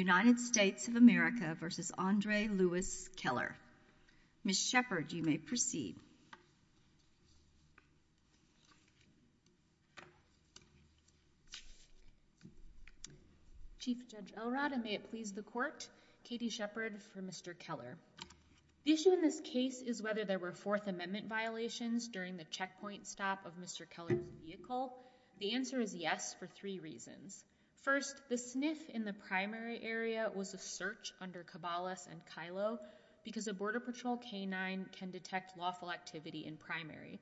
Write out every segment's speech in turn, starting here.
The issue in this case is whether there were Fourth Amendment violations during the checkpoint stop of Mr. Keller's vehicle. The answer is yes, for three reasons. First, the sniff in the primary area was a search under Cabales and Kylo because a Border Patrol K-9 can detect lawful activity in primary.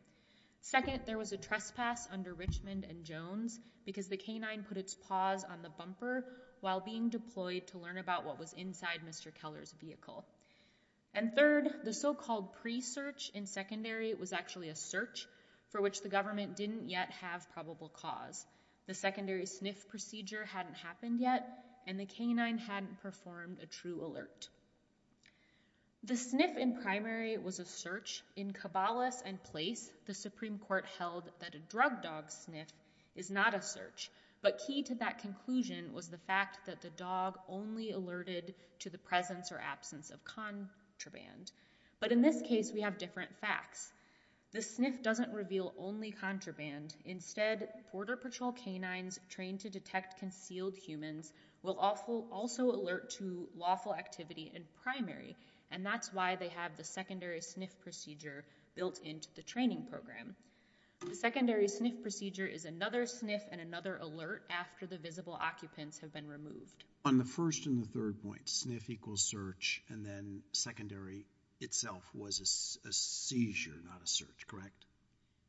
Second, there was a trespass under Richmond and Jones because the K-9 put its paws on the bumper while being deployed to learn about what was inside Mr. Keller's vehicle. And third, the so-called pre-search in secondary was actually a search for which the government didn't yet have probable cause. The secondary sniff procedure hadn't happened yet and the K-9 hadn't performed a true alert. The sniff in primary was a search in Cabales and place. The Supreme Court held that a drug dog sniff is not a search, but key to that conclusion was the fact that the dog only alerted to the presence or absence of contraband. But in this case, we have different facts. The sniff doesn't reveal only contraband. Instead, Border Patrol K-9s trained to detect concealed humans will also alert to lawful activity in primary and that's why they have the secondary sniff procedure built into the training program. The secondary sniff procedure is another sniff and another alert after the visible occupants have been removed. On the first and the third point, sniff equals search and then secondary itself was a seizure, not a search, correct?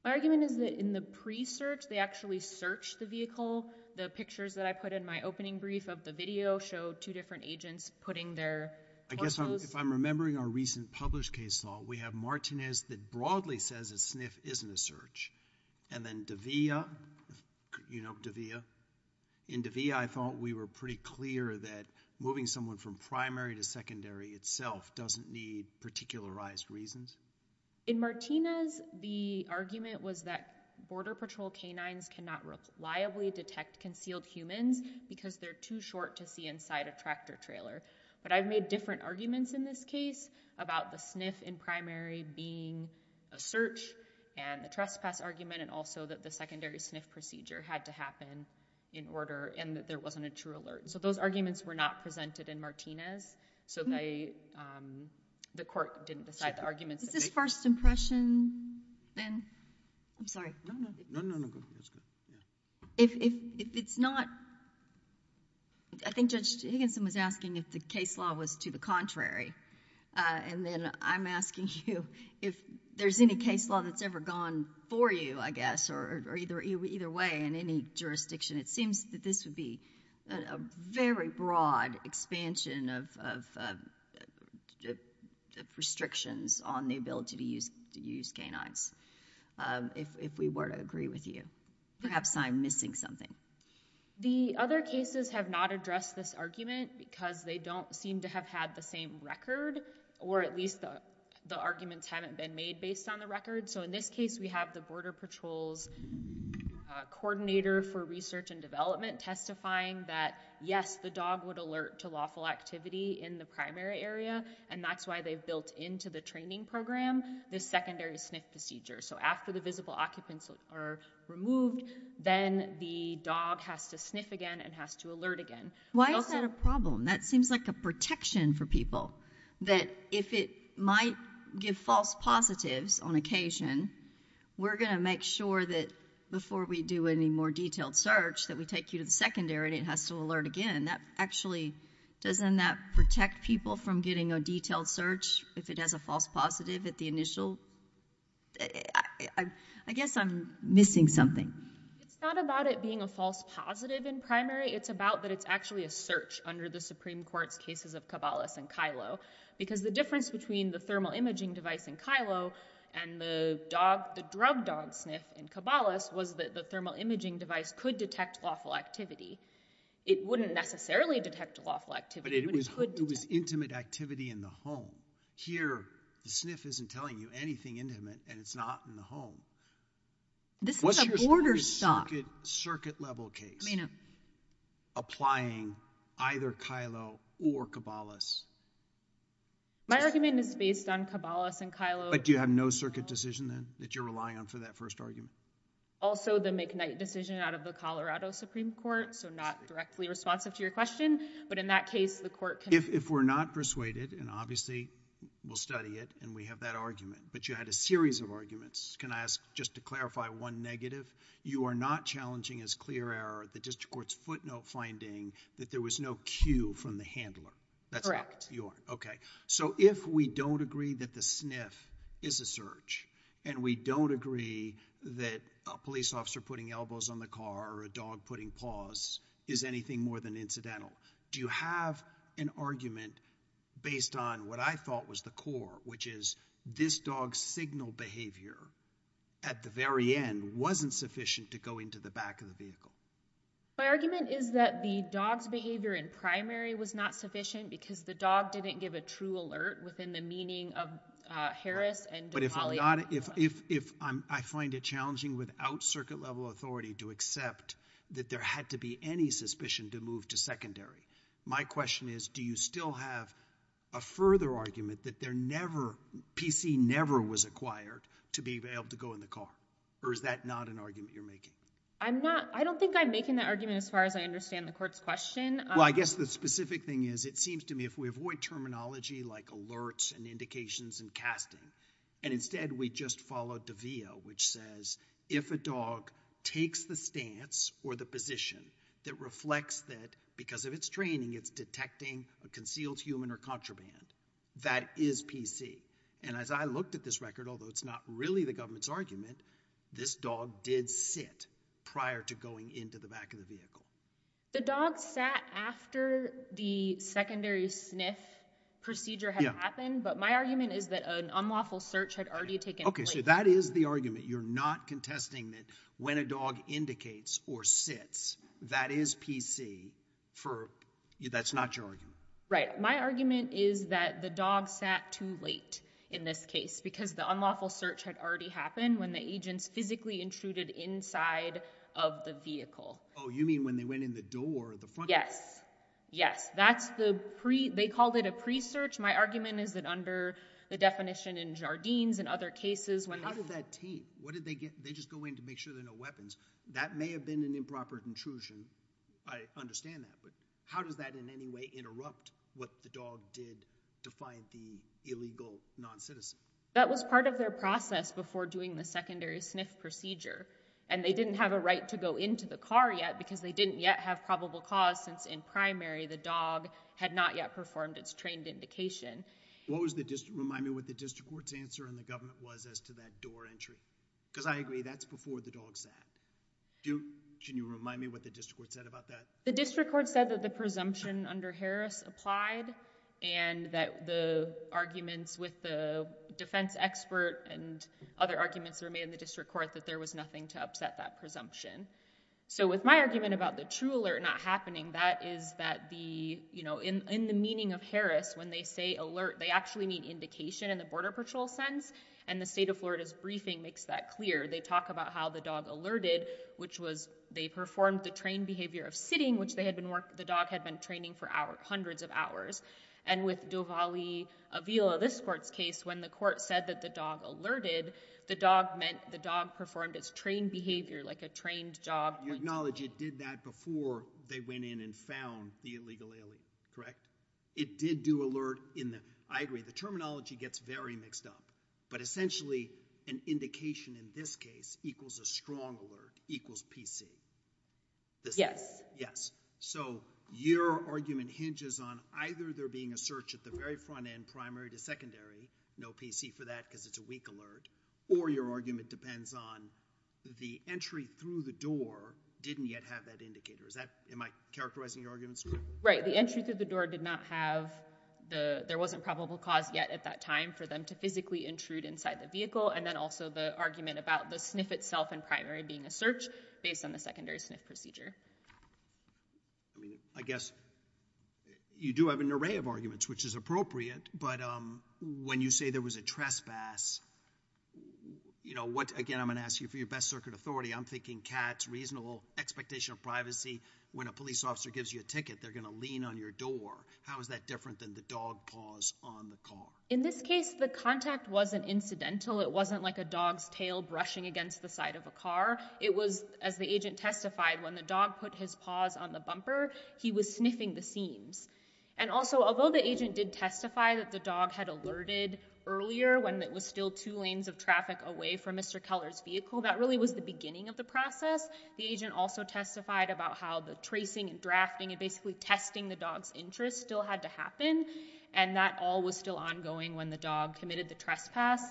My argument is that in the pre-search, they actually search the vehicle. The pictures that I put in my opening brief of the video show two different agents putting their torsos. I guess if I'm remembering our recent published case law, we have Martinez that broadly says a sniff isn't a search and then Davila, you know Davila. In Davila, I thought we were pretty clear that moving someone from primary to secondary itself doesn't need particularized reasons. In Martinez, the argument was that Border Patrol K-9s cannot reliably detect concealed humans because they're too short to see inside a tractor trailer. But I've made different arguments in this case about the sniff in primary being a search and the trespass argument and also that the secondary sniff procedure had to happen in order and that there wasn't a true alert. So those arguments were not presented in Martinez. So the court didn't decide the arguments... Is this first impression, Ben? I'm sorry. No, no, it's good. If it's not... I think Judge Higginson was asking if the case law was to the contrary and then I'm asking you if there's any case law that's ever gone for you, I guess, or either way in any jurisdiction. It seems that this would be a very broad expansion of restrictions on the ability to use K-9s if we were to agree with you. Perhaps I'm missing something. The other cases have not addressed this argument because they don't seem to have had the same record or at least the arguments haven't been made based on the record. So in this case, we have the Border Patrol's Coordinator for Research and Development testifying that, yes, the dog would alert to lawful activity in the primary area and that's why they've built into the training program this secondary sniff procedure. So after the visible occupants are removed, then the dog has to sniff again and has to alert again. Why is that a problem? That seems like a protection for people that if it might give false positives on occasion, we're going to make sure that before we do any more detailed search that we take you to the secondary and it has to alert again. That actually... doesn't that protect people from getting a detailed search if it has a false positive at the initial... I guess I'm missing something. It's not about it being a false positive in primary. It's about that it's actually a search under the Supreme Court's cases of Cabales and Kyllo because the difference between the thermal imaging device in Kyllo and the dog... the drug dog sniff in Cabales was that the thermal imaging device could detect lawful activity. It wouldn't necessarily detect lawful activity. But it was... it was intimate activity in the home. Here, the sniff isn't telling you anything intimate and it's not in the home. This is a border stop. What's your circuit level case? I mean... Applying either Kyllo or Cabales? My argument is based on Cabales and Kyllo... But do you have no circuit decision then that you're relying on for that first argument? Also, the McKnight decision out of the Colorado Supreme Court, so not directly responsive to your question. But in that case, the court can... If we're not persuaded, and obviously we'll study it and we have that argument, but you had a series of arguments. Can I ask just to clarify one negative? You are not challenging as clear error the district court's footnote finding that there was no cue from the handler. That's correct. You aren't. Okay. So, if we don't agree that the sniff is a search and we don't agree that a police officer putting elbows on the car or a dog putting paws is anything more than incidental, do you have an argument based on what I thought was the core, which is this dog's signal behavior at the very end wasn't sufficient to go into the back of the vehicle? My argument is that the dog's behavior in primary was not sufficient because the dog didn't give a true alert within the meaning of Harris and DuPaglio... But if I'm not... If I find it challenging without circuit-level authority to accept that there had to be any suspicion to move to secondary, my question is do you still have a further argument that there never, PC never was acquired to be able to go in the car? Or is that not an argument you're making? I'm not... I don't think I'm making that argument as far as I understand the court's question. Well, I guess the specific thing is it seems to me if we avoid terminology like alerts and indications and casting and instead we just follow DeVio, which says if a dog takes the stance or the position that reflects that because of its training it's detecting a concealed human or contraband, that is PC. And as I looked at this record, although it's not really the government's argument, this dog did sit prior to going into the back of the vehicle. The dog sat after the secondary sniff procedure had happened, but my argument is that an unlawful search had already taken place. So that is the argument. You're not contesting that when a dog indicates or sits, that is PC. That's not your argument? Right. My argument is that the dog sat too late in this case because the unlawful search had already happened when the agents physically intruded inside of the vehicle. Oh, you mean when they went in the door, the front door? Yes. Yes. They called it a pre-search. My argument is that under the definition in Jardines and other cases when— How did that team, what did they get? They just go in to make sure there are no weapons. That may have been an improper intrusion. I understand that. But how does that in any way interrupt what the dog did to find the illegal non-citizen? That was part of their process before doing the secondary sniff procedure. And they didn't have a right to go into the car yet because they didn't yet have probable cause since in primary the dog had not yet performed its trained indication. What was the—remind me what the district court's answer in the government was as to that door entry? Because I agree that's before the dog sat. Can you remind me what the district court said about that? The district court said that the presumption under Harris applied and that the arguments with the defense expert and other arguments were made in the district court that there was nothing to upset that presumption. So with my argument about the true alert not happening, that is that the, you know, in the meaning of Harris, when they say alert, they actually mean indication in the border patrol sense. And the state of Florida's briefing makes that clear. They talk about how the dog alerted, which was they performed the trained behavior of sitting, which the dog had been training for hundreds of hours. And with Dovali Avila, this court's case, when the court said that the dog alerted, the dog meant the dog performed its trained behavior like a trained dog. You acknowledge it did that before they went in and found the illegal alien, correct? It did do alert in the—I agree, the terminology gets very mixed up. But essentially, an indication in this case equals a strong alert, equals PC. Yes. Yes. So your argument hinges on either there being a search at the very front end, primary to secondary, no PC for that because it's a weak alert, or your argument depends on the entry through the door didn't yet have that indicator. Is that—am I characterizing your arguments correctly? Right. The entry through the door did not have the—there wasn't probable cause yet at that time for them to physically intrude inside the vehicle. And then also the argument about the sniff itself and primary being a search based on the secondary sniff procedure. I mean, I guess you do have an array of arguments, which is appropriate. But when you say there was a trespass, you know, what—again, I'm going to ask you for your best circuit authority. I'm thinking cats, reasonable expectation of privacy. When a police officer gives you a ticket, they're going to lean on your door. How is that different than the dog paws on the car? In this case, the contact wasn't incidental. It wasn't like a dog's tail brushing against the side of a car. It was, as the agent testified, when the dog put his paws on the bumper, he was sniffing the seams. And also, although the agent did testify that the dog had alerted earlier when it was still two lanes of traffic away from Mr. Keller's vehicle, that really was the beginning of the process. The agent also testified about how the tracing and drafting and basically testing the dog's interest still had to happen. And that all was still ongoing when the dog committed the trespass.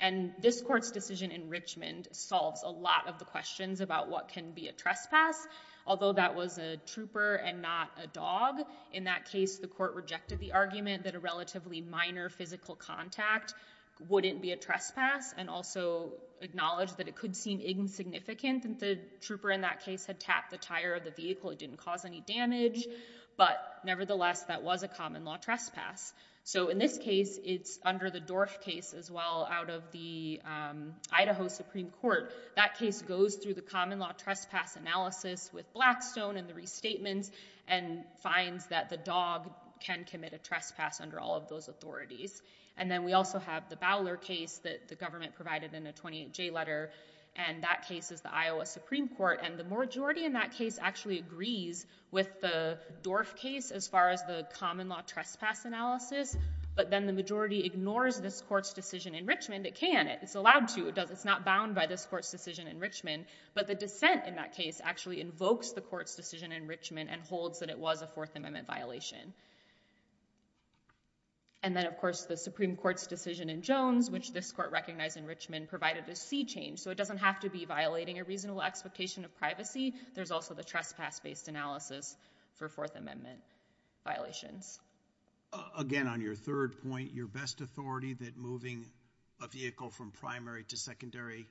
And this court's decision in Richmond solves a lot of the questions about what can be a trespass. Although that was a trooper and not a dog, in that case, the court rejected the argument that a relatively minor physical contact wouldn't be a trespass and also acknowledged that it could seem insignificant that the trooper in that case had tapped the tire of the vehicle. It didn't cause any damage. But nevertheless, that was a common law trespass. So in this case, it's under the Dorff case as well out of the Idaho Supreme Court. That case goes through the common law trespass analysis with Blackstone and the restatements and finds that the dog can commit a trespass under all of those authorities. And then we also have the Bowler case that the government provided in the 28J letter. And that case is the Iowa Supreme Court. And the majority in that case actually agrees with the Dorff case as far as the common law trespass analysis. But then the majority ignores this court's decision in Richmond. It can. It's allowed to. It's not bound by this court's decision in Richmond. But the dissent in that case actually invokes the court's decision in Richmond and holds that it was a Fourth Amendment violation. And then, of course, the Supreme Court's decision in Jones, which this court recognized in Richmond, provided a C change. So it doesn't have to be violating a reasonable expectation of privacy. There's also the trespass-based analysis for Fourth Amendment violations. Again, on your third point, your best authority that moving a vehicle from primary to secondary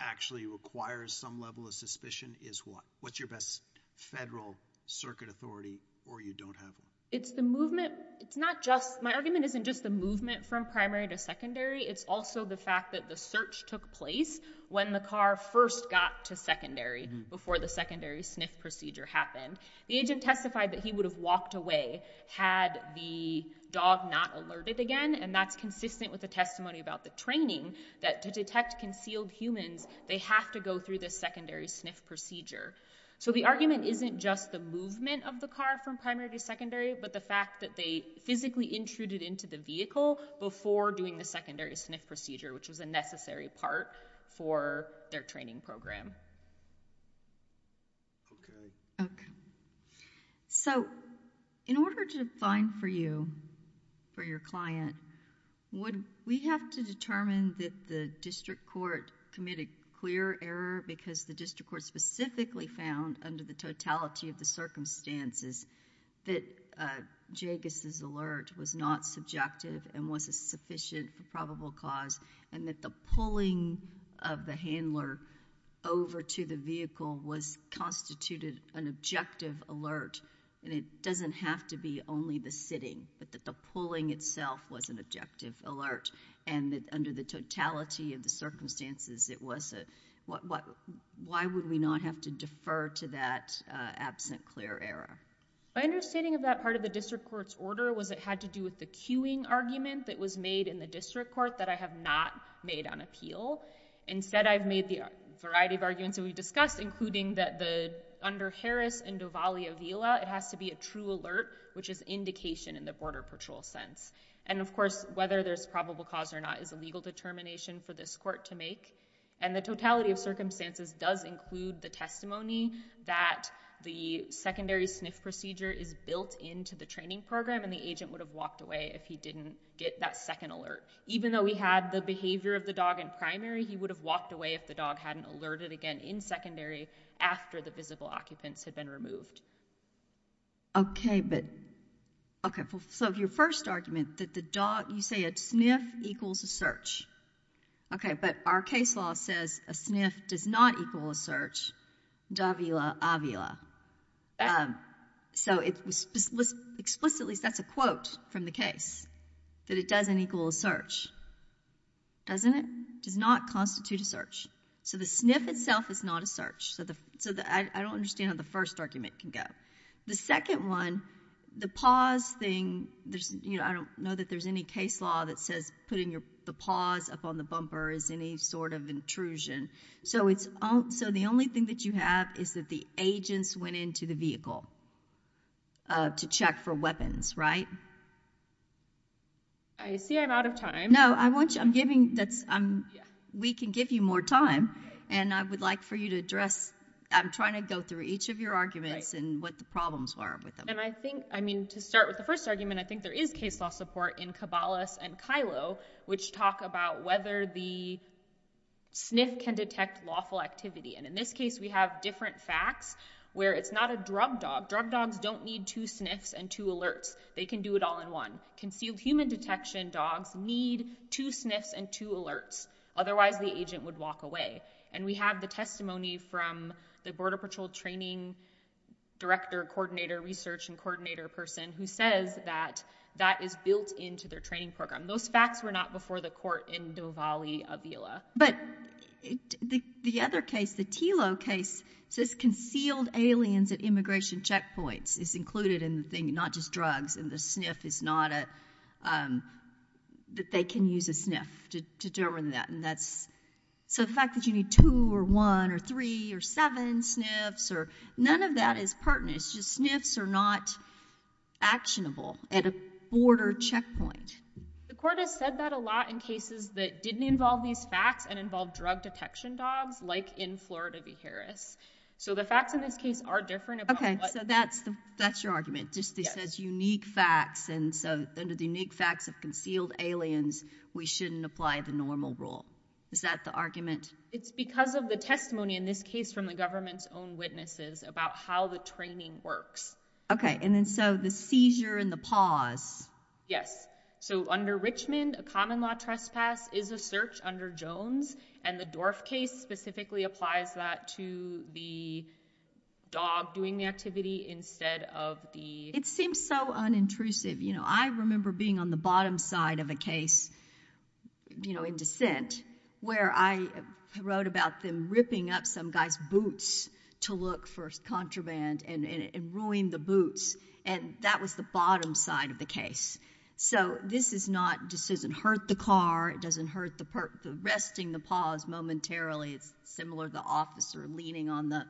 actually requires some level of suspicion is what? What's your best federal circuit authority? Or you don't have one? It's the movement. It's not just my argument isn't just the movement from primary to secondary. It's also the fact that the search took place when the car first got to secondary before the secondary sniff procedure happened. The agent testified that he would have walked away had the dog not alerted again. And that's consistent with the testimony about the training that to detect concealed humans, they have to go through the secondary sniff procedure. So the argument isn't just the movement of the car from primary to secondary, but the fact that they physically intruded into the vehicle before doing the secondary sniff procedure, which was a necessary part for their training program. Okay. So in order to find for you, for your client, would we have to determine that the district court committed clear error because the district court specifically found under the totality of the circumstances that Jagus' alert was not subjective and was a sufficient probable cause and that the pulling of the handler over to the vehicle was constituted an objective alert and it doesn't have to be only the sitting, but that the pulling itself was an objective alert and that under the totality of the circumstances, it was a, why would we not have to defer to that absent clear error? My understanding of that part of the district court's order was it had to do with the arguing argument that was made in the district court that I have not made on appeal. Instead I've made the variety of arguments that we've discussed, including that the, under Harris and Dovali-Avila, it has to be a true alert, which is indication in the border patrol sense. And of course, whether there's probable cause or not is a legal determination for this court to make. And the totality of circumstances does include the testimony that the secondary sniff procedure is built into the training program and the agent would have walked away if he didn't get that second alert. Even though we had the behavior of the dog in primary, he would have walked away if the dog hadn't alerted again in secondary after the visible occupants had been removed. Okay. But, okay. So your first argument that the dog, you say a sniff equals a search. Okay. But our case law says a sniff does not equal a search, Dovali-Avila. Okay. So it was explicitly, that's a quote from the case, that it doesn't equal a search. Doesn't it? Does not constitute a search. So the sniff itself is not a search. So the, so the, I don't understand how the first argument can go. The second one, the pause thing, there's, you know, I don't know that there's any case law that says putting your, the pause up on the bumper is any sort of intrusion. So it's, so the only thing that you have is that the agents went into the vehicle to check for weapons, right? I see I'm out of time. No, I want you, I'm giving, that's, I'm, we can give you more time and I would like for you to address, I'm trying to go through each of your arguments and what the problems were with them. And I think, I mean, to start with the first argument, I think there is case law support in Caballos and Kylo, which talk about whether the sniff can detect lawful activity. And in this case, we have different facts where it's not a drug dog. Drug dogs don't need two sniffs and two alerts. They can do it all in one. Concealed human detection dogs need two sniffs and two alerts. Otherwise the agent would walk away. And we have the testimony from the border patrol training director, coordinator, research and coordinator person who says that that is built into their training program. Those facts were not before the court in Dovali, Avila. But the other case, the Tilo case says concealed aliens at immigration checkpoints is included in the thing, not just drugs. And the sniff is not a, um, that they can use a sniff to determine that. And that's, so the fact that you need two or one or three or seven sniffs or none of that is pertinent. It's just sniffs are not actionable at a border checkpoint. The court has said that a lot in cases that didn't involve these facts and involve drug detection dogs, like in Florida v. Harris. So the facts in this case are different. Okay. So that's the, that's your argument. Just this says unique facts. And so under the unique facts of concealed aliens, we shouldn't apply the normal rule. Is that the argument? It's because of the testimony in this case from the government's own witnesses about how the training works. Okay. And then so the seizure and the pause. Yes. So under Richmond, a common law trespass is a search under Jones and the Dorf case specifically applies that to the dog doing the activity instead of the... It seems so unintrusive. You know, I remember being on the bottom side of a case, you know, in dissent where I wrote about them ripping up some guy's boots to look for contraband and ruined the boots. And that was the bottom side of the case. So this is not, this doesn't hurt the car. It doesn't hurt the resting the paws momentarily. It's similar to the officer leaning on the,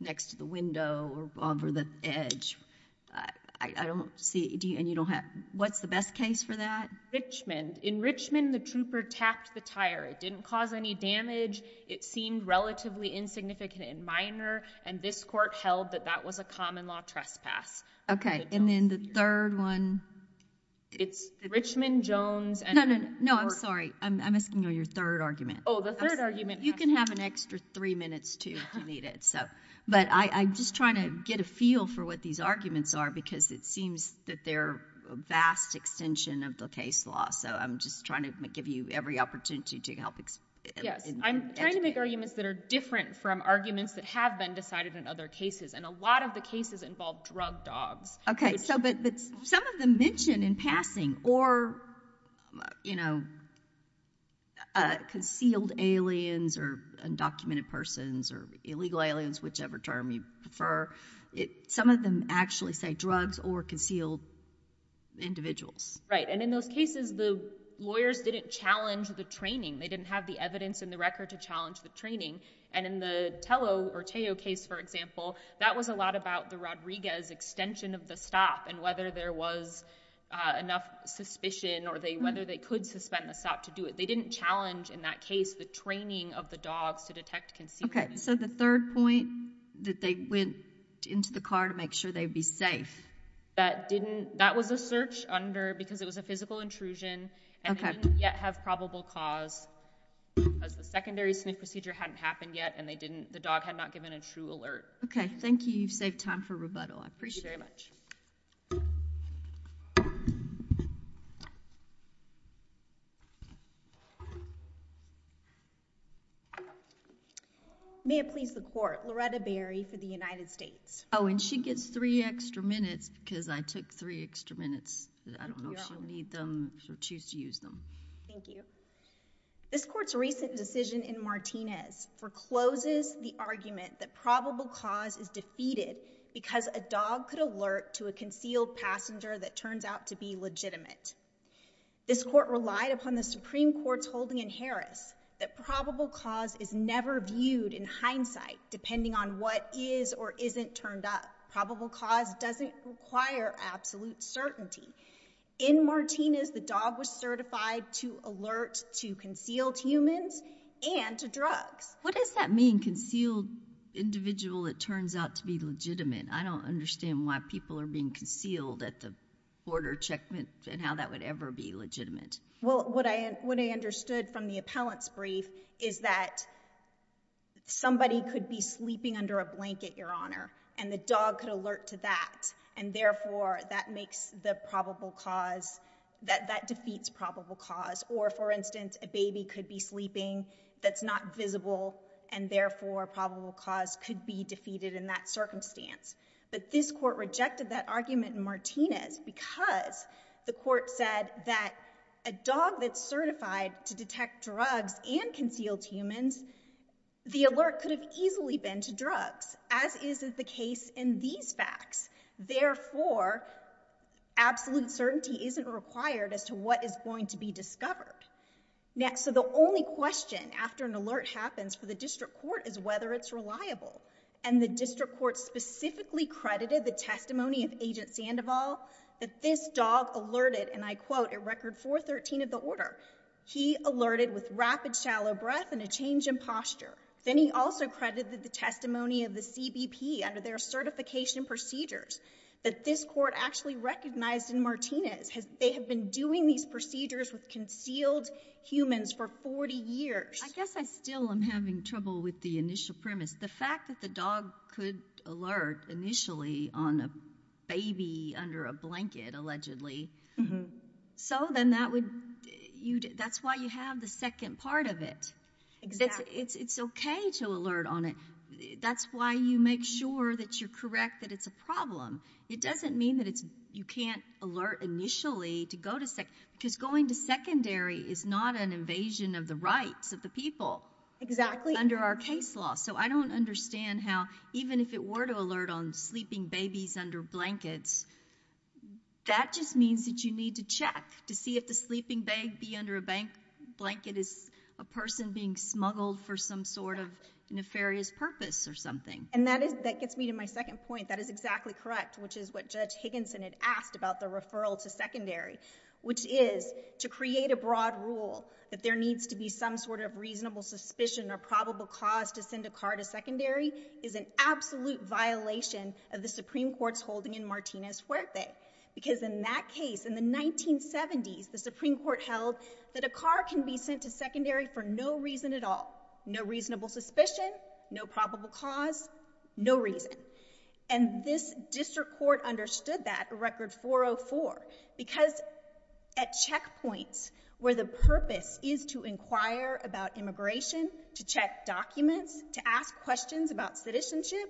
next to the window or over the edge. I don't see, and you don't have, what's the best case for that? In Richmond, the trooper tapped the tire. It didn't cause any damage. It seemed relatively insignificant and minor. And this court held that that was a common law trespass. And then the third one. It's Richmond, Jones and... No, no, no. I'm sorry. I'm asking you your third argument. Oh, the third argument. You can have an extra three minutes too if you need it. So, but I'm just trying to get a feel for what these arguments are because it seems that they're a vast extension of the case law. So I'm just trying to give you every opportunity to help explain. I'm trying to make arguments that are different from arguments that have been decided in other cases. And a lot of the cases involve drug dogs. So, but some of them mentioned in passing or, you know, concealed aliens or undocumented persons or illegal aliens, whichever term you prefer. Some of them actually say drugs or concealed individuals. Right. And in those cases, the lawyers didn't challenge the training. They didn't have the evidence in the record to challenge the training. And in the Tello or Tejo case, for example, that was a lot about the Rodriguez extension of the stop and whether there was enough suspicion or they, whether they could suspend the stop to do it. They didn't challenge in that case, the training of the dogs to detect concealed. Okay. So the third point that they went into the car to make sure they'd be safe. That didn't, that was a search under, because it was a physical intrusion and didn't yet have probable cause as the secondary sniff procedure hadn't happened yet. And they didn't, the dog had not given a true alert. Okay. Thank you. You've saved time for rebuttal. I appreciate it very much. May it please the court, Loretta Berry for the United States. Oh, and she gets three extra minutes because I took three extra minutes. I don't know if she'll need them or choose to use them. Thank you. This court's recent decision in Martinez forecloses the argument that probable cause is defeated because a dog could alert to a concealed passenger that turns out to be legitimate. This court relied upon the Supreme Court's holding in Harris that probable cause is never viewed in hindsight, depending on what is or isn't turned up. Probable cause doesn't require absolute certainty. In Martinez, the dog was certified to alert to concealed humans and to drugs. What does that mean, concealed individual that turns out to be legitimate? I don't understand why people are being concealed at the border checkpoint and how that would ever be legitimate. Well, what I, what I understood from the appellant's brief is that somebody could be sleeping under a blanket, Your Honor, and the dog could alert to that. And therefore, that makes the probable cause, that, that defeats probable cause. Or for instance, a baby could be sleeping that's not visible, and therefore, probable cause could be defeated in that circumstance. But this court rejected that argument in Martinez because the court said that a dog that's certified to detect drugs and concealed humans, the alert could have easily been to drugs, as is the case in these facts. Therefore, absolute certainty isn't required as to what is going to be discovered. Now, so the only question after an alert happens for the district court is whether it's reliable. And the district court specifically credited the testimony of Agent Sandoval that this dog alerted, and I quote, at record 413 of the order. He alerted with rapid shallow breath and a change in posture. Then he also credited the testimony of the CBP under their certification procedures that this court actually recognized in Martinez. They have been doing these procedures with concealed humans for 40 years. I guess I still am having trouble with the initial premise. The fact that the dog could alert initially on a baby under a blanket, allegedly. So then that would, that's why you have the second part of it. Exactly. It's okay to alert on it. That's why you make sure that you're correct that it's a problem. It doesn't mean that it's, you can't alert initially to go to second, because going to secondary is not an invasion of the rights of the people. Exactly. Under our case law. So I don't understand how, even if it were to alert on sleeping babies under blankets, that just means that you need to check to see if the sleeping baby under a blanket is a person being smuggled for some sort of nefarious purpose or something. And that is, that gets me to my second point. That is exactly correct, which is what Judge Higginson had asked about the referral to secondary, which is to create a broad rule that there needs to be some sort of reasonable suspicion or probable cause to send a car to secondary is an absolute violation of the Supreme Court's holding in Martinez-Fuerte. Because in that case, in the 1970s, the Supreme Court held that a car can be sent to secondary for no reason at all. No reasonable suspicion, no probable cause, no reason. And this district court understood that, Record 404, because at checkpoints where the purpose is to inquire about immigration, to check documents, to ask questions about citizenship,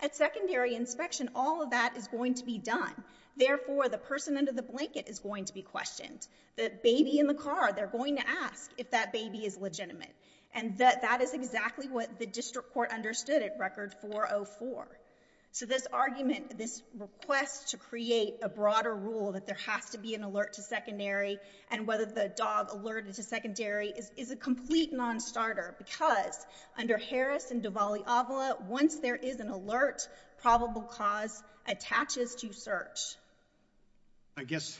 at secondary inspection, all of that is going to be done. Therefore, the person under the blanket is going to be questioned. The baby in the car, they're going to ask if that baby is legitimate. And that is exactly what the district court understood at Record 404. So this argument, this request to create a broader rule that there has to be an alert to secondary and whether the dog alerted to secondary is a complete non-starter. Because under Harris and Duvali-Avila, once there is an alert, probable cause attaches to search. I guess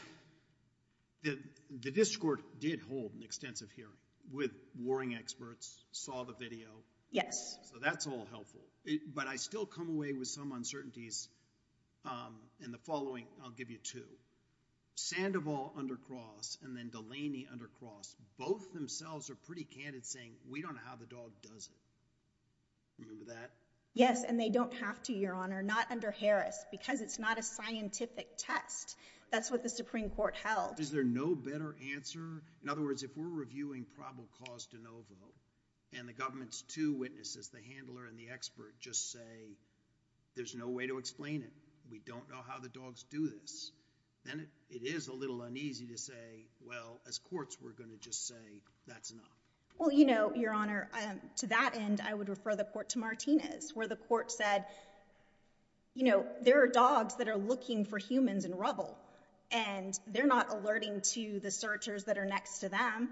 the district court did hold an extensive hearing with warring experts, saw the video. Yes. So that's all helpful. But I still come away with some uncertainties. And the following, I'll give you two. Sandoval under Cross and then Delaney under Cross, both themselves are pretty candid saying, we don't know how the dog does it. Remember that? Yes. And they don't have to, Your Honor. Not under Harris, because it's not a scientific test. That's what the Supreme Court held. Is there no better answer? In other words, if we're reviewing probable cause de novo, and the government's two witnesses, the handler and the expert, just say, there's no way to explain it. We don't know how the dogs do this. Then it is a little uneasy to say, well, as courts, we're going to just say, that's enough. Well, you know, Your Honor, to that end, I would refer the court to Martinez, where the said, you know, there are dogs that are looking for humans in rubble. And they're not alerting to the searchers that are next to them.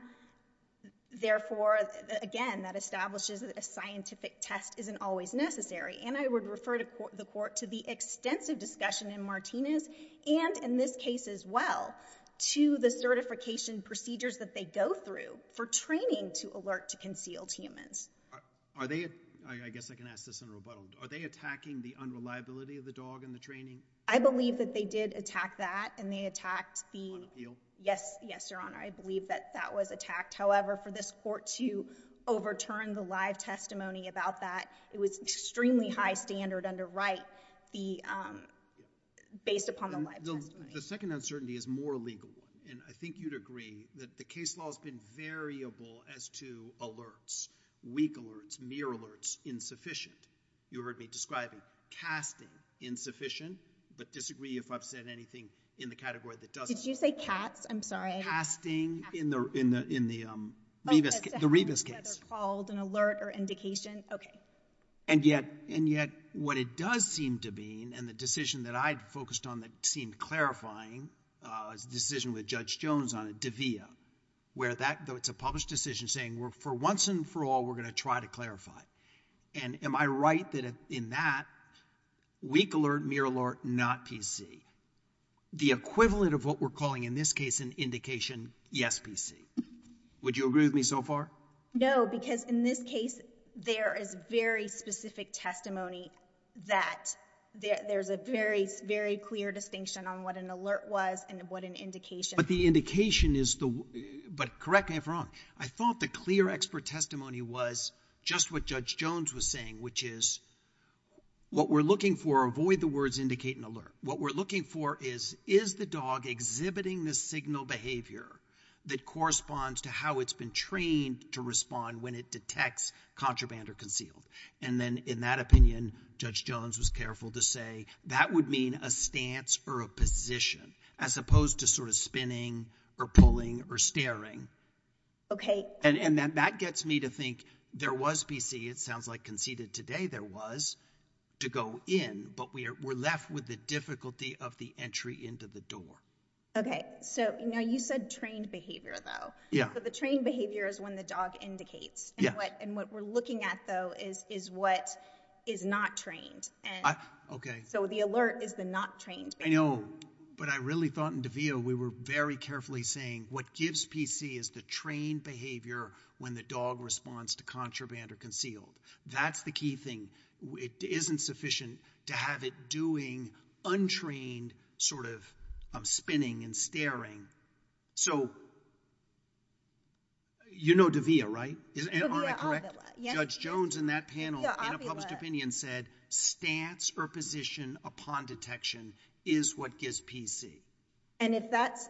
Therefore, again, that establishes that a scientific test isn't always necessary. And I would refer the court to the extensive discussion in Martinez, and in this case as well, to the certification procedures that they go through for training to alert to concealed humans. Are they, I guess I can ask this in rebuttal. Are they attacking the unreliability of the dog in the training? I believe that they did attack that. And they attacked the- Yes. Yes, Your Honor. I believe that that was attacked. However, for this court to overturn the live testimony about that, it was extremely high standard under Wright, based upon the live testimony. The second uncertainty is more legal. And I think you'd agree that the case law has been variable as to alerts. Weak alerts, mere alerts, insufficient. You heard me describing casting insufficient. But disagree if I've said anything in the category that doesn't. Did you say cats? I'm sorry. Casting in the Rebus case. That are called an alert or indication. Okay. And yet what it does seem to be, and the decision that I'd focused on that seemed clarifying, is the decision with Judge Jones on it, De'Vea. Where that, though it's a published decision, saying for once and for all, we're going to try to clarify. And am I right that in that, weak alert, mere alert, not PC. The equivalent of what we're calling in this case an indication, yes, PC. Would you agree with me so far? No, because in this case, there is very specific testimony that there's a very, very clear distinction on what an alert was and what an indication. But the indication is the, but correct me if I'm wrong. I thought the clear expert testimony was just what Judge Jones was saying, which is, what we're looking for, avoid the words indicate and alert. What we're looking for is, is the dog exhibiting the signal behavior that corresponds to how it's been trained to respond when it detects contraband or concealed. And then in that opinion, Judge Jones was careful to say, that would mean a stance or a position as opposed to sort of spinning or pulling or staring. And that gets me to think there was PC. It sounds like conceded today there was to go in, but we're left with the difficulty of the entry into the door. Okay. So, you know, you said trained behavior, though. Yeah. But the trained behavior is when the dog indicates. Yeah. And what we're looking at, though, is what is not trained. Okay. So the alert is the not trained. I know, but I really thought in De'Vea, we were very carefully saying what gives PC is the trained behavior when the dog responds to contraband or concealed. That's the key thing. It isn't sufficient to have it doing untrained sort of spinning and staring. So, you know, De'Vea, right? De'Vea Avila, yes. Judge Jones in that panel in a published opinion said, stance or position upon detection is what gives PC. And if that's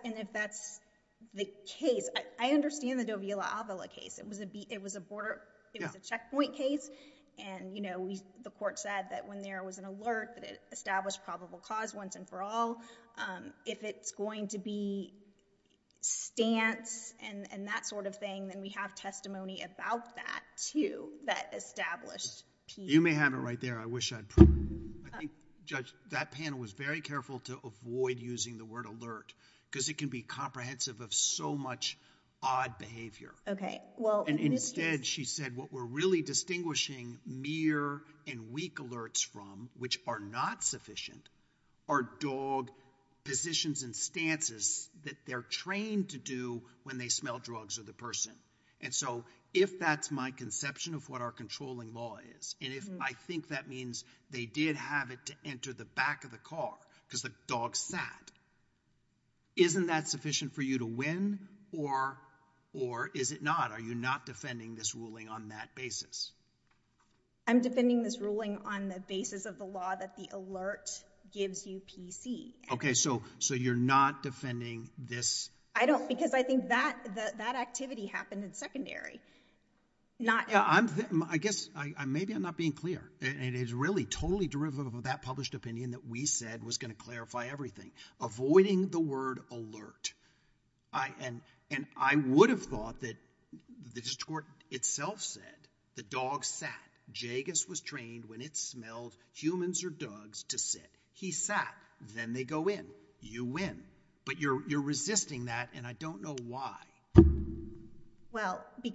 the case, I understand the De'Vea Avila case. It was a checkpoint case. And, you know, the court said that when there was an alert, that it established probable cause once and for all. If it's going to be stance and that sort of thing, then we have testimony about that, too, that established PC. You may have it right there. I wish I'd proven it. I think, Judge, that panel was very careful to avoid using the word alert because it can be comprehensive of so much odd behavior. Okay. Well, and instead, she said what we're really distinguishing mere and weak alerts from, which are not sufficient, are dog positions and stances that they're trained to do when they smell drugs or the person. And so if that's my conception of what our controlling law is, and if I think that means they did have it to enter the back of the car because the dog sat, isn't that sufficient for you to win or is it not? Are you not defending this ruling on that basis? I'm defending this ruling on the basis of the law that the alert gives you PC. Okay. So you're not defending this? I don't. Because I think that activity happened in secondary. I guess maybe I'm not being clear. It is really totally derivative of that published opinion that we said was going to clarify everything. Avoiding the word alert. And I would have thought that the district court itself said the dog sat. Jagus was trained when it smelled humans or dogs to sit. He sat. Then they go in. You win. But you're resisting that. And I don't know why.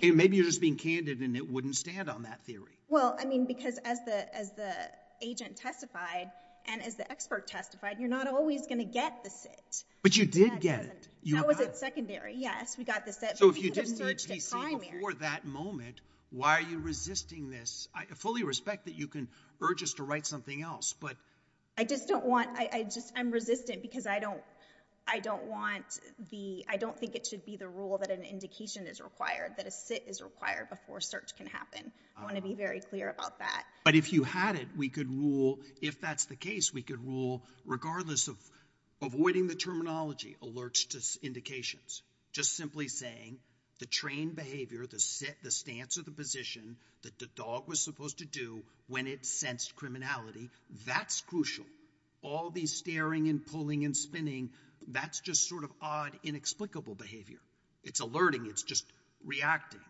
Maybe you're just being candid and it wouldn't stand on that theory. Well, I mean, because as the agent testified and as the expert testified, you're not always going to get the sit. But you did get it. How was it secondary? Yes, we got the sit. So if you did see PC for that moment, why are you resisting this? I fully respect that you can urge us to write something else. I just don't want, I'm resistant because I don't think it should be the rule that an indication is required, that a sit is required before search can happen. I want to be very clear about that. But if you had it, we could rule, if that's the case, we could rule, regardless of avoiding the terminology, alerts to indications. Just simply saying the trained behavior, the sit, the stance or the position that the dog was supposed to do when it sensed criminality, that's crucial. All these staring and pulling and spinning, that's just sort of odd, inexplicable behavior. It's alerting. It's just reacting.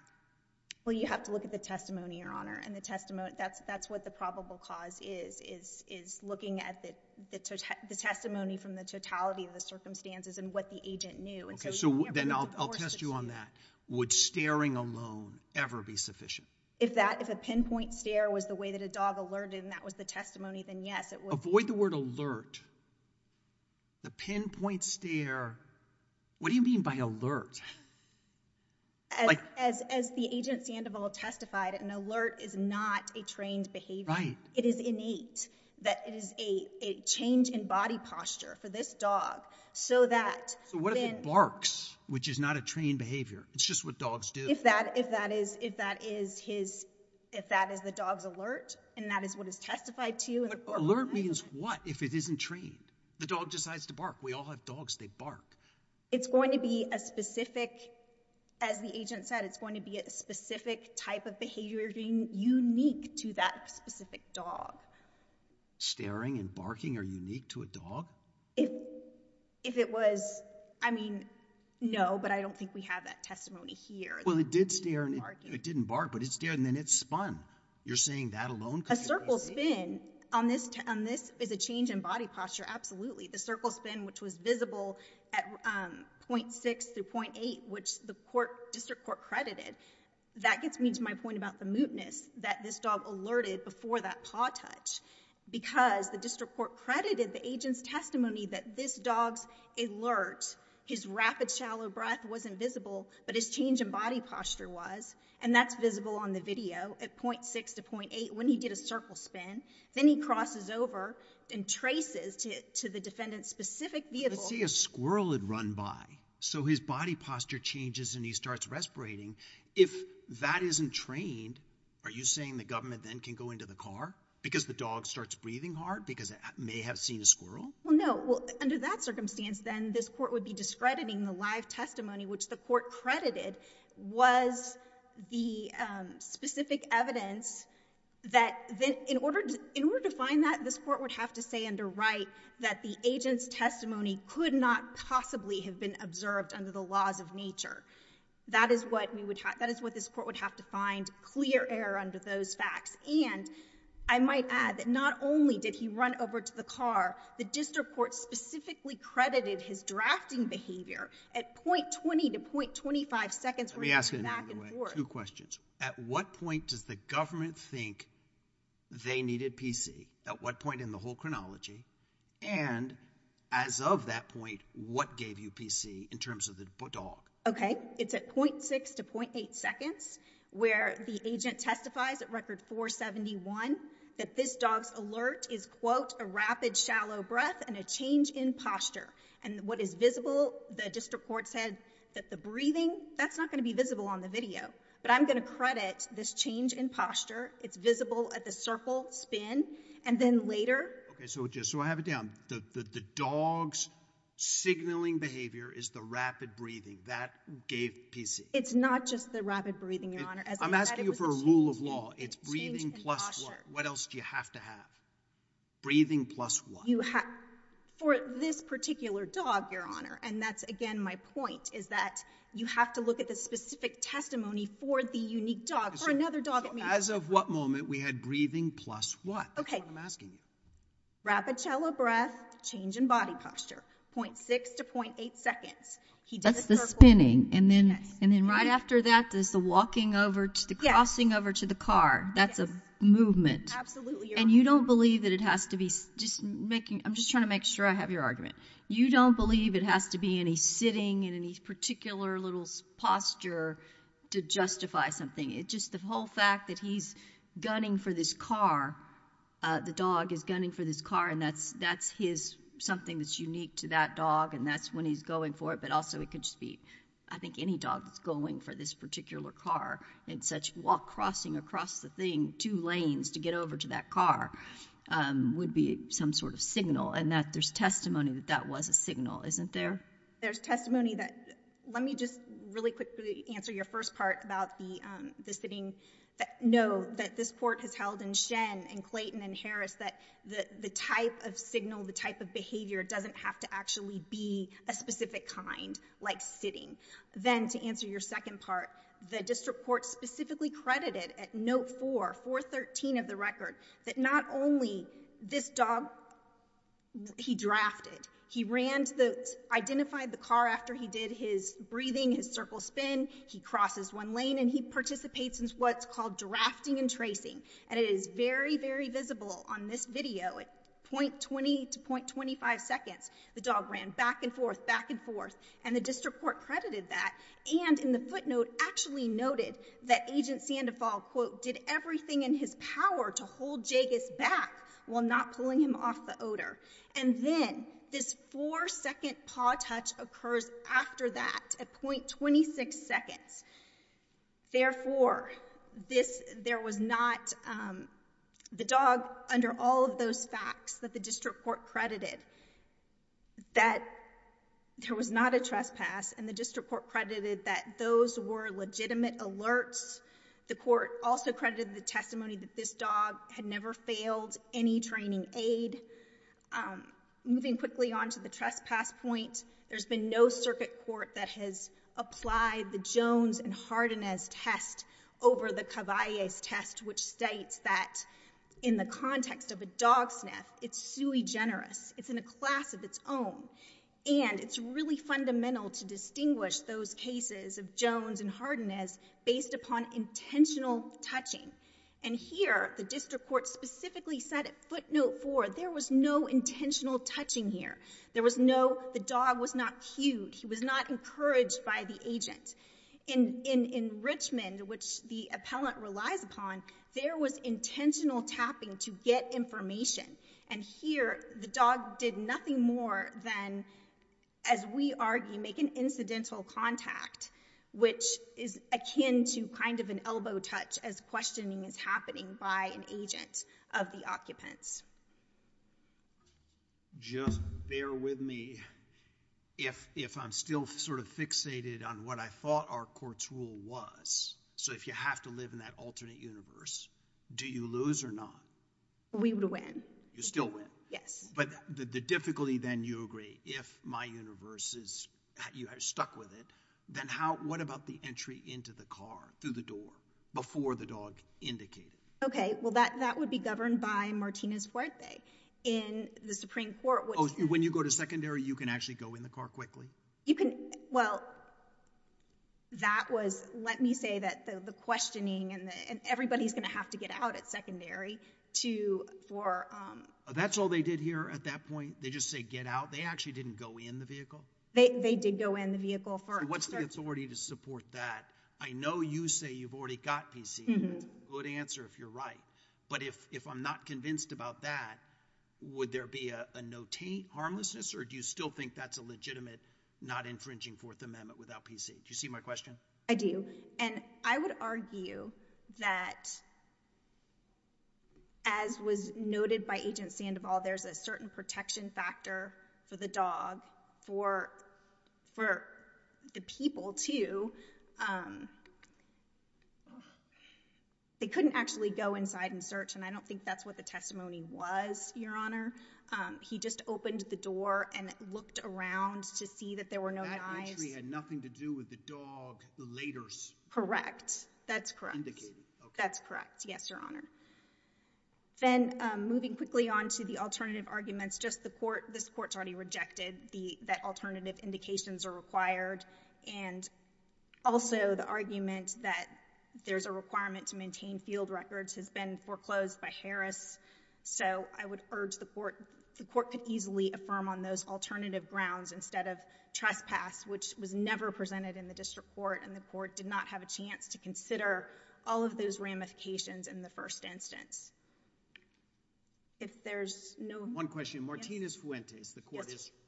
Well, you have to look at the testimony, Your Honor. And the testimony, that's what the probable cause is, is looking at the testimony from the totality of the circumstances and what the agent knew. OK, so then I'll test you on that. Would staring alone ever be sufficient? If that, if a pinpoint stare was the way that a dog alerted and that was the testimony, then yes, it would. Avoid the word alert. The pinpoint stare, what do you mean by alert? As the agent Sandoval testified, an alert is not a trained behavior. It is innate. That it is a change in body posture for this dog so that. So what if it barks, which is not a trained behavior? It's just what dogs do. If that is, if that is his, if that is the dog's alert and that is what is testified to. Alert means what if it isn't trained? The dog decides to bark. We all have dogs, they bark. It's going to be a specific, as the agent said, it's going to be a specific type of behavior unique to that specific dog. Staring and barking are unique to a dog? If it was, I mean, no, but I don't think we have that testimony here. Well, it did stare and it didn't bark, but it stared and then it spun. You're saying that alone? A circle spin on this, on this is a change in body posture. Absolutely. The circle spin, which was visible at 0.6 through 0.8, which the court district court credited. That gets me to my point about the mootness that this dog alerted before that paw touch because the district court credited the agent's testimony that this dog's alert, his rapid shallow breath wasn't visible, but his change in body posture was. And that's visible on the video at 0.6 to 0.8 when he did a circle spin, then he crosses over and traces to the defendant's specific vehicle. Let's say a squirrel had run by, so his body posture changes and he starts respirating. If that isn't trained, are you saying the government then can go into the car because the dog starts breathing hard because it may have seen a squirrel? Well, no. Well, under that circumstance, then this court would be discrediting the live testimony, which the court credited was the specific evidence that in order to find that, this court would have to say under right that the agent's testimony could not possibly have been observed under the laws of nature. That is what we would have, that is what this court would have to find clear error under those facts. And I might add that not only did he run over to the car, the district court specifically credited his drafting behavior at 0.20 to 0.25 seconds. Let me ask you two questions. At what point does the government think they needed PC? At what point in the whole chronology? And as of that point, what gave you PC in terms of the dog? Okay. It's at 0.6 to 0.8 seconds where the agent testifies at record 471 that this dog's alert is, quote, a rapid shallow breath and a change in posture. And what is visible, the district court said that the breathing, that's not going to be visible on the video. But I'm going to credit this change in posture. It's visible at the circle spin. And then later. Okay. So just so I have it down, the dog's signaling behavior is the rapid breathing. That gave PC. It's not just the rapid breathing, Your Honor. I'm asking you for a rule of law. It's breathing plus what? What else do you have to have? Breathing plus what? You have for this particular dog, Your Honor. And that's, again, my point is that you have to look at the specific testimony for the unique dog or another dog. As of what moment we had breathing plus what? Rapid shallow breath, change in body posture, 0.6 to 0.8 seconds. That's the spinning. And then right after that, there's the crossing over to the car. That's a movement. And you don't believe that it has to be, I'm just trying to make sure I have your argument. You don't believe it has to be any sitting in any particular little posture to justify something. Just the whole fact that he's gunning for this car, the dog is gunning for this car. And that's something that's unique to that dog. And that's when he's going for it. But also it could just be, I think, any dog that's going for this particular car and such walk crossing across the thing, two lanes to get over to that car would be some sort of signal. And that there's testimony that that was a signal, isn't there? There's testimony that, let me just really quickly answer your first part about the sitting. Know that this court has held in Shen and Clayton and Harris that the type of signal, the type of behavior doesn't have to actually be a specific kind, like sitting. Then to answer your second part, the district court specifically credited at note 4, 413 of the record, that not only this dog, he drafted, he ran to the, identified the car after he did his breathing, his circle spin. He crosses one lane and he participates in what's called drafting and tracing. And it is very, very visible on this video at 0.20 to 0.25 seconds. The dog ran back and forth, back and forth. And the district court credited that. And in the footnote actually noted that Agent Sandoval, quote, did everything in his power to hold Jagus back while not pulling him off the odor. And then this four second paw touch occurs after that at 0.26 seconds. Therefore, this, there was not, the dog under all of those facts that the district court credited, that there was not a trespass. And the district court credited that those were legitimate alerts. The court also credited the testimony that this dog had never failed any training aid. Moving quickly on to the trespass point, there's been no circuit court that has applied the Jones and Hardinez test over the Cavallese test, which states that in the context of a dog sniff, it's sui generis. It's in a class of its own. And it's really fundamental to distinguish those cases of Jones and Hardinez based upon intentional touching. And here, the district court specifically said at footnote four, there was no intentional touching here. There was no, the dog was not cued. He was not encouraged by the agent. In Richmond, which the appellant relies upon, there was intentional tapping to get information. And here, the dog did nothing more than, as we argue, make an incidental contact, which is akin to kind of an elbow touch as questioning is happening by an agent of the occupants. Just bear with me if I'm still sort of fixated on what I thought our court's rule was. So if you have to live in that alternate universe, do you lose or not? We would win. You still win? Yes. But the difficulty then, you agree, if my universe is, you are stuck with it, then how, what about the entry into the car through the door before the dog indicated? Okay. Well, that would be governed by Martinez-Fuerte in the Supreme Court. Oh, when you go to secondary, you can actually go in the car quickly? You can, well, that was, let me say that the questioning and everybody's going to have to get out at secondary to, for. That's all they did here at that point? They just say get out? They actually didn't go in the vehicle? They did go in the vehicle for. So what's the authority to support that? I know you say you've already got PC, good answer if you're right, but if I'm not convinced about that, would there be a notate harmlessness or do you still think that's a legitimate not infringing Fourth Amendment without PC? Do you see my question? I do. And I would argue that as was noted by Agent Sandoval, there's a certain protection factor for the dog, for the people too. They couldn't actually go inside and search, and I don't think that's what the testimony was, Your Honor. He just opened the door and looked around to see that there were no knives. That entry had nothing to do with the dog, the laders? Correct, that's correct. Indicated, okay. That's correct, yes, Your Honor. Then, moving quickly on to the alternative arguments, just the court, this court's already rejected that alternative indications are required, and also the argument that there's a requirement to maintain field records has been foreclosed by Harris. So I would urge the court, the court could easily affirm on those alternative grounds instead of trespass, which was never presented in the district court, and the court did not have a chance to consider all of those ramifications in the first instance. If there's no... One question. Martinez-Fuentes, the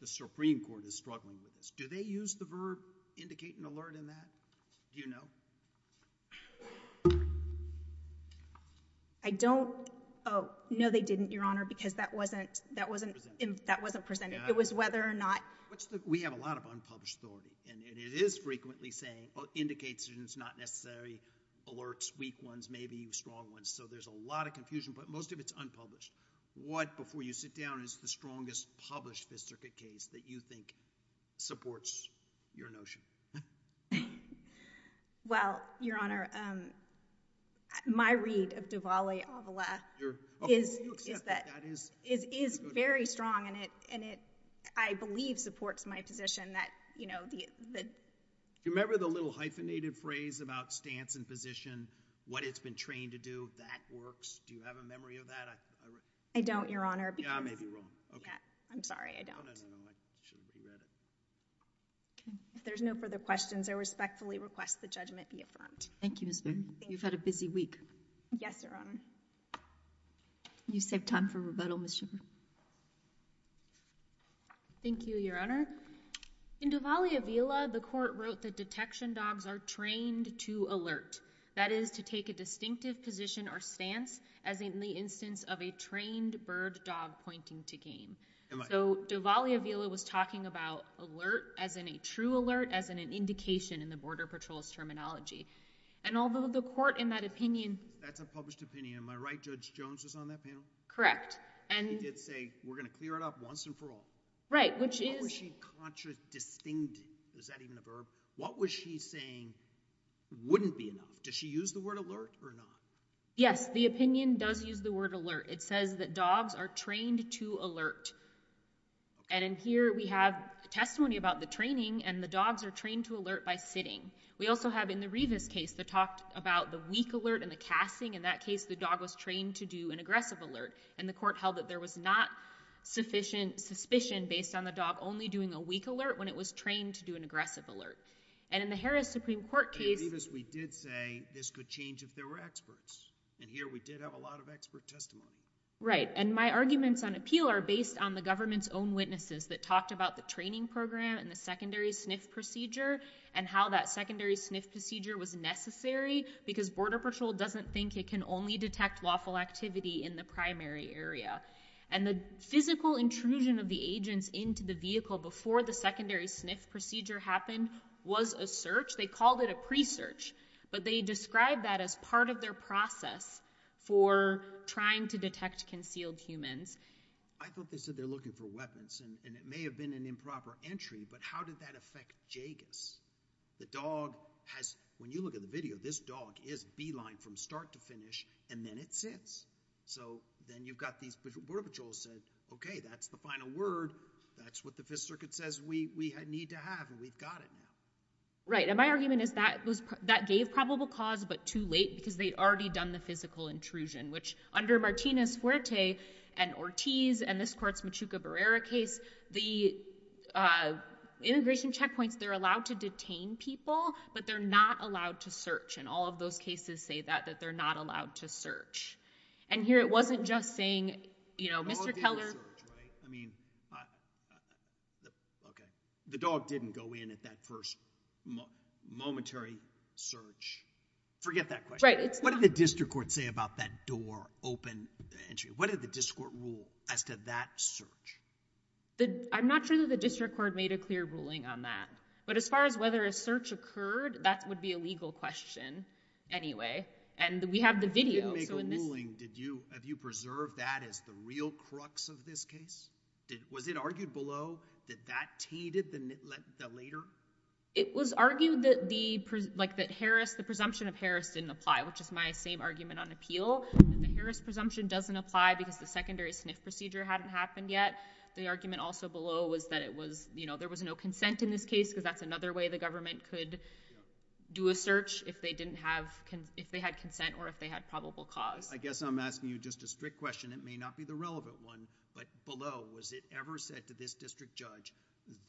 Supreme Court is struggling with this. Do they use the verb indicate and alert in that? Do you know? I don't... oh, no, they didn't, Your Honor, because that wasn't presented. It was whether or not... We have a lot of unpublished authority. And it is frequently saying, oh, indicate students, not necessarily alerts, weak ones, maybe strong ones. So there's a lot of confusion, but most of it's unpublished. What, before you sit down, is the strongest published Fisker case that you think supports your notion? Well, Your Honor, my read of Duvali-Avila... You're...... is that...... is very strong, and it, I believe, supports my position that, you know, the... Do you remember the little hyphenated phrase about stance and position, what it's been trained to do, that works? Do you have a memory of that? I don't, Your Honor, because... Yeah, I may be wrong. Okay. I'm sorry, I don't. No, no, no, no, I shouldn't have read it. If there's no further questions, I respectfully request the judgment be up front. Thank you, Ms. Baird. You've had a busy week. Yes, Your Honor. You saved time for rebuttal, Ms. Schiffman. Thank you, Your Honor. In Duvali-Avila, the court wrote that detection dogs are trained to alert, that is, to take a distinctive position or stance, as in the instance of a trained bird dog pointing to game. So Duvali-Avila was talking about alert, as in a true alert, as in an indication in the Border Patrol's terminology. And although the court in that opinion... That's a published opinion, am I right, Judge Jones was on that panel? Correct. And... He did say, we're going to clear it up once and for all. Right, which is... What was she contradistinguishing? Was that even a verb? What was she saying wouldn't be enough? Does she use the word alert or not? Yes, the opinion does use the word alert. It says that dogs are trained to alert. And in here, we have testimony about the training, and the dogs are trained to alert by sitting. We also have, in the Rivas case, they talked about the weak alert and the casting. In that case, the dog was trained to do an aggressive alert. And the court held that there was not sufficient suspicion based on the dog only doing a weak alert when it was trained to do an aggressive alert. And in the Harris Supreme Court case... In the Rivas, we did say this could change if there were experts. And here, we did have a lot of expert testimony. Right. And my arguments on appeal are based on the government's own witnesses that talked about the training program, and the secondary sniff procedure, and how that secondary sniff procedure was necessary because Border Patrol doesn't think it can only detect lawful activity in the primary area. And the physical intrusion of the agents into the vehicle before the secondary sniff procedure happened was a search. They called it a pre-search, but they described that as part of their process for trying to detect concealed humans. I thought they said they're looking for weapons, and it may have been an improper entry, but how did that affect Jagus? The dog has... When you look at the video, this dog is beelined from start to finish, and then it sits. So then you've got these... Border Patrol said, OK, that's the final word. That's what the Fifth Circuit says we need to have, and we've got it now. Right. And my argument is that gave probable cause, but too late because they'd already done the physical intrusion, which under Martinez-Fuerte and Ortiz and this court's Machuca-Barrera case, the immigration checkpoints, they're allowed to detain people, but they're not allowed to search. And all of those cases say that, that they're not allowed to search. And here it wasn't just saying, you know, Mr. Keller... The dog didn't search, right? I mean, OK. The dog didn't go in at that first momentary search. Forget that question. Right. What did the district court say about that door open entry? What did the district court rule as to that search? I'm not sure that the district court made a clear ruling on that, but as far as whether a search occurred, that would be a legal question anyway. And we have the video. Did you, have you preserved that as the real crux of this case? Was it argued below that that tainted the later? It was argued that the presumption of Harris didn't apply, which is my same argument on appeal. The Harris presumption doesn't apply because the secondary SNF procedure hadn't happened yet. The argument also below was that it was, you know, there was no consent in this case because that's another way the government could do a search if they didn't have, if they had consent or if they had probable cause. I guess I'm asking you just a strict question. It may not be the relevant one, but below, was it ever said to this district judge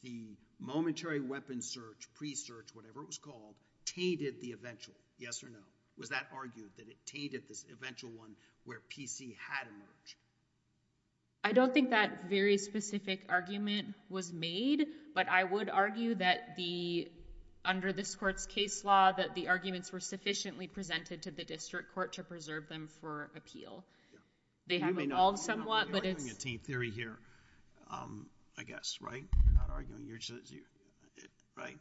the momentary weapon search, pre-search, whatever it was called, tainted the eventual? Yes or no? Was that argued that it tainted this eventual one where PC had emerged? I don't think that very specific argument was made, but I would argue that the, under this court's case law, that the arguments were sufficiently presented to the district court to preserve them for appeal. They have evolved somewhat, but it's- You're arguing a team theory here, I guess, right? You're not arguing, you're just, right?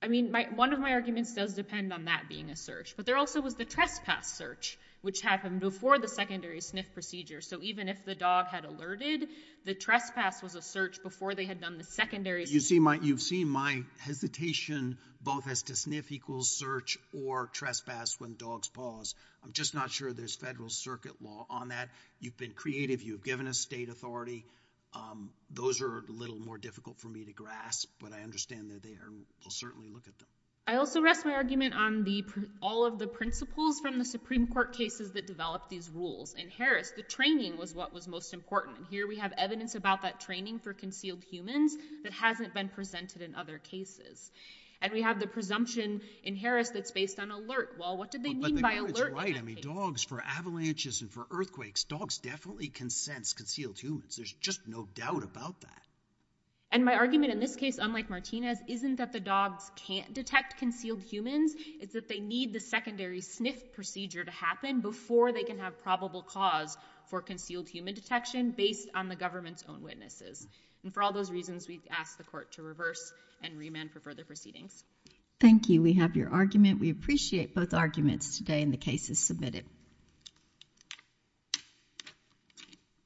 I mean, one of my arguments does depend on that being a search, but there also was the trespass search, which happened before the secondary SNF procedure. So even if the dog had alerted, the trespass was a search before they had done the secondary SNF procedure. You've seen my hesitation both as to SNF equals search or trespass when dogs pause. I'm just not sure there's federal circuit law on that. You've been creative, you've given us state authority. Those are a little more difficult for me to grasp, but I understand that they are, we'll certainly look at them. I also rest my argument on all of the principles from the Supreme Court cases that developed these rules. In Harris, the training was what was most important. Here we have evidence about that training for concealed humans that hasn't been presented in other cases. And we have the presumption in Harris that's based on alert. Well, what did they mean by alert? It's right. I mean, dogs for avalanches and for earthquakes, dogs definitely can sense concealed humans. There's just no doubt about that. And my argument in this case, unlike Martinez, isn't that the dogs can't detect concealed humans. It's that they need the secondary SNF procedure to happen before they can have probable cause for concealed human detection based on the government's own witnesses. And for all those reasons, we ask the court to reverse and remand for further proceedings. Thank you. We have your argument. We appreciate both arguments today and the cases submitted.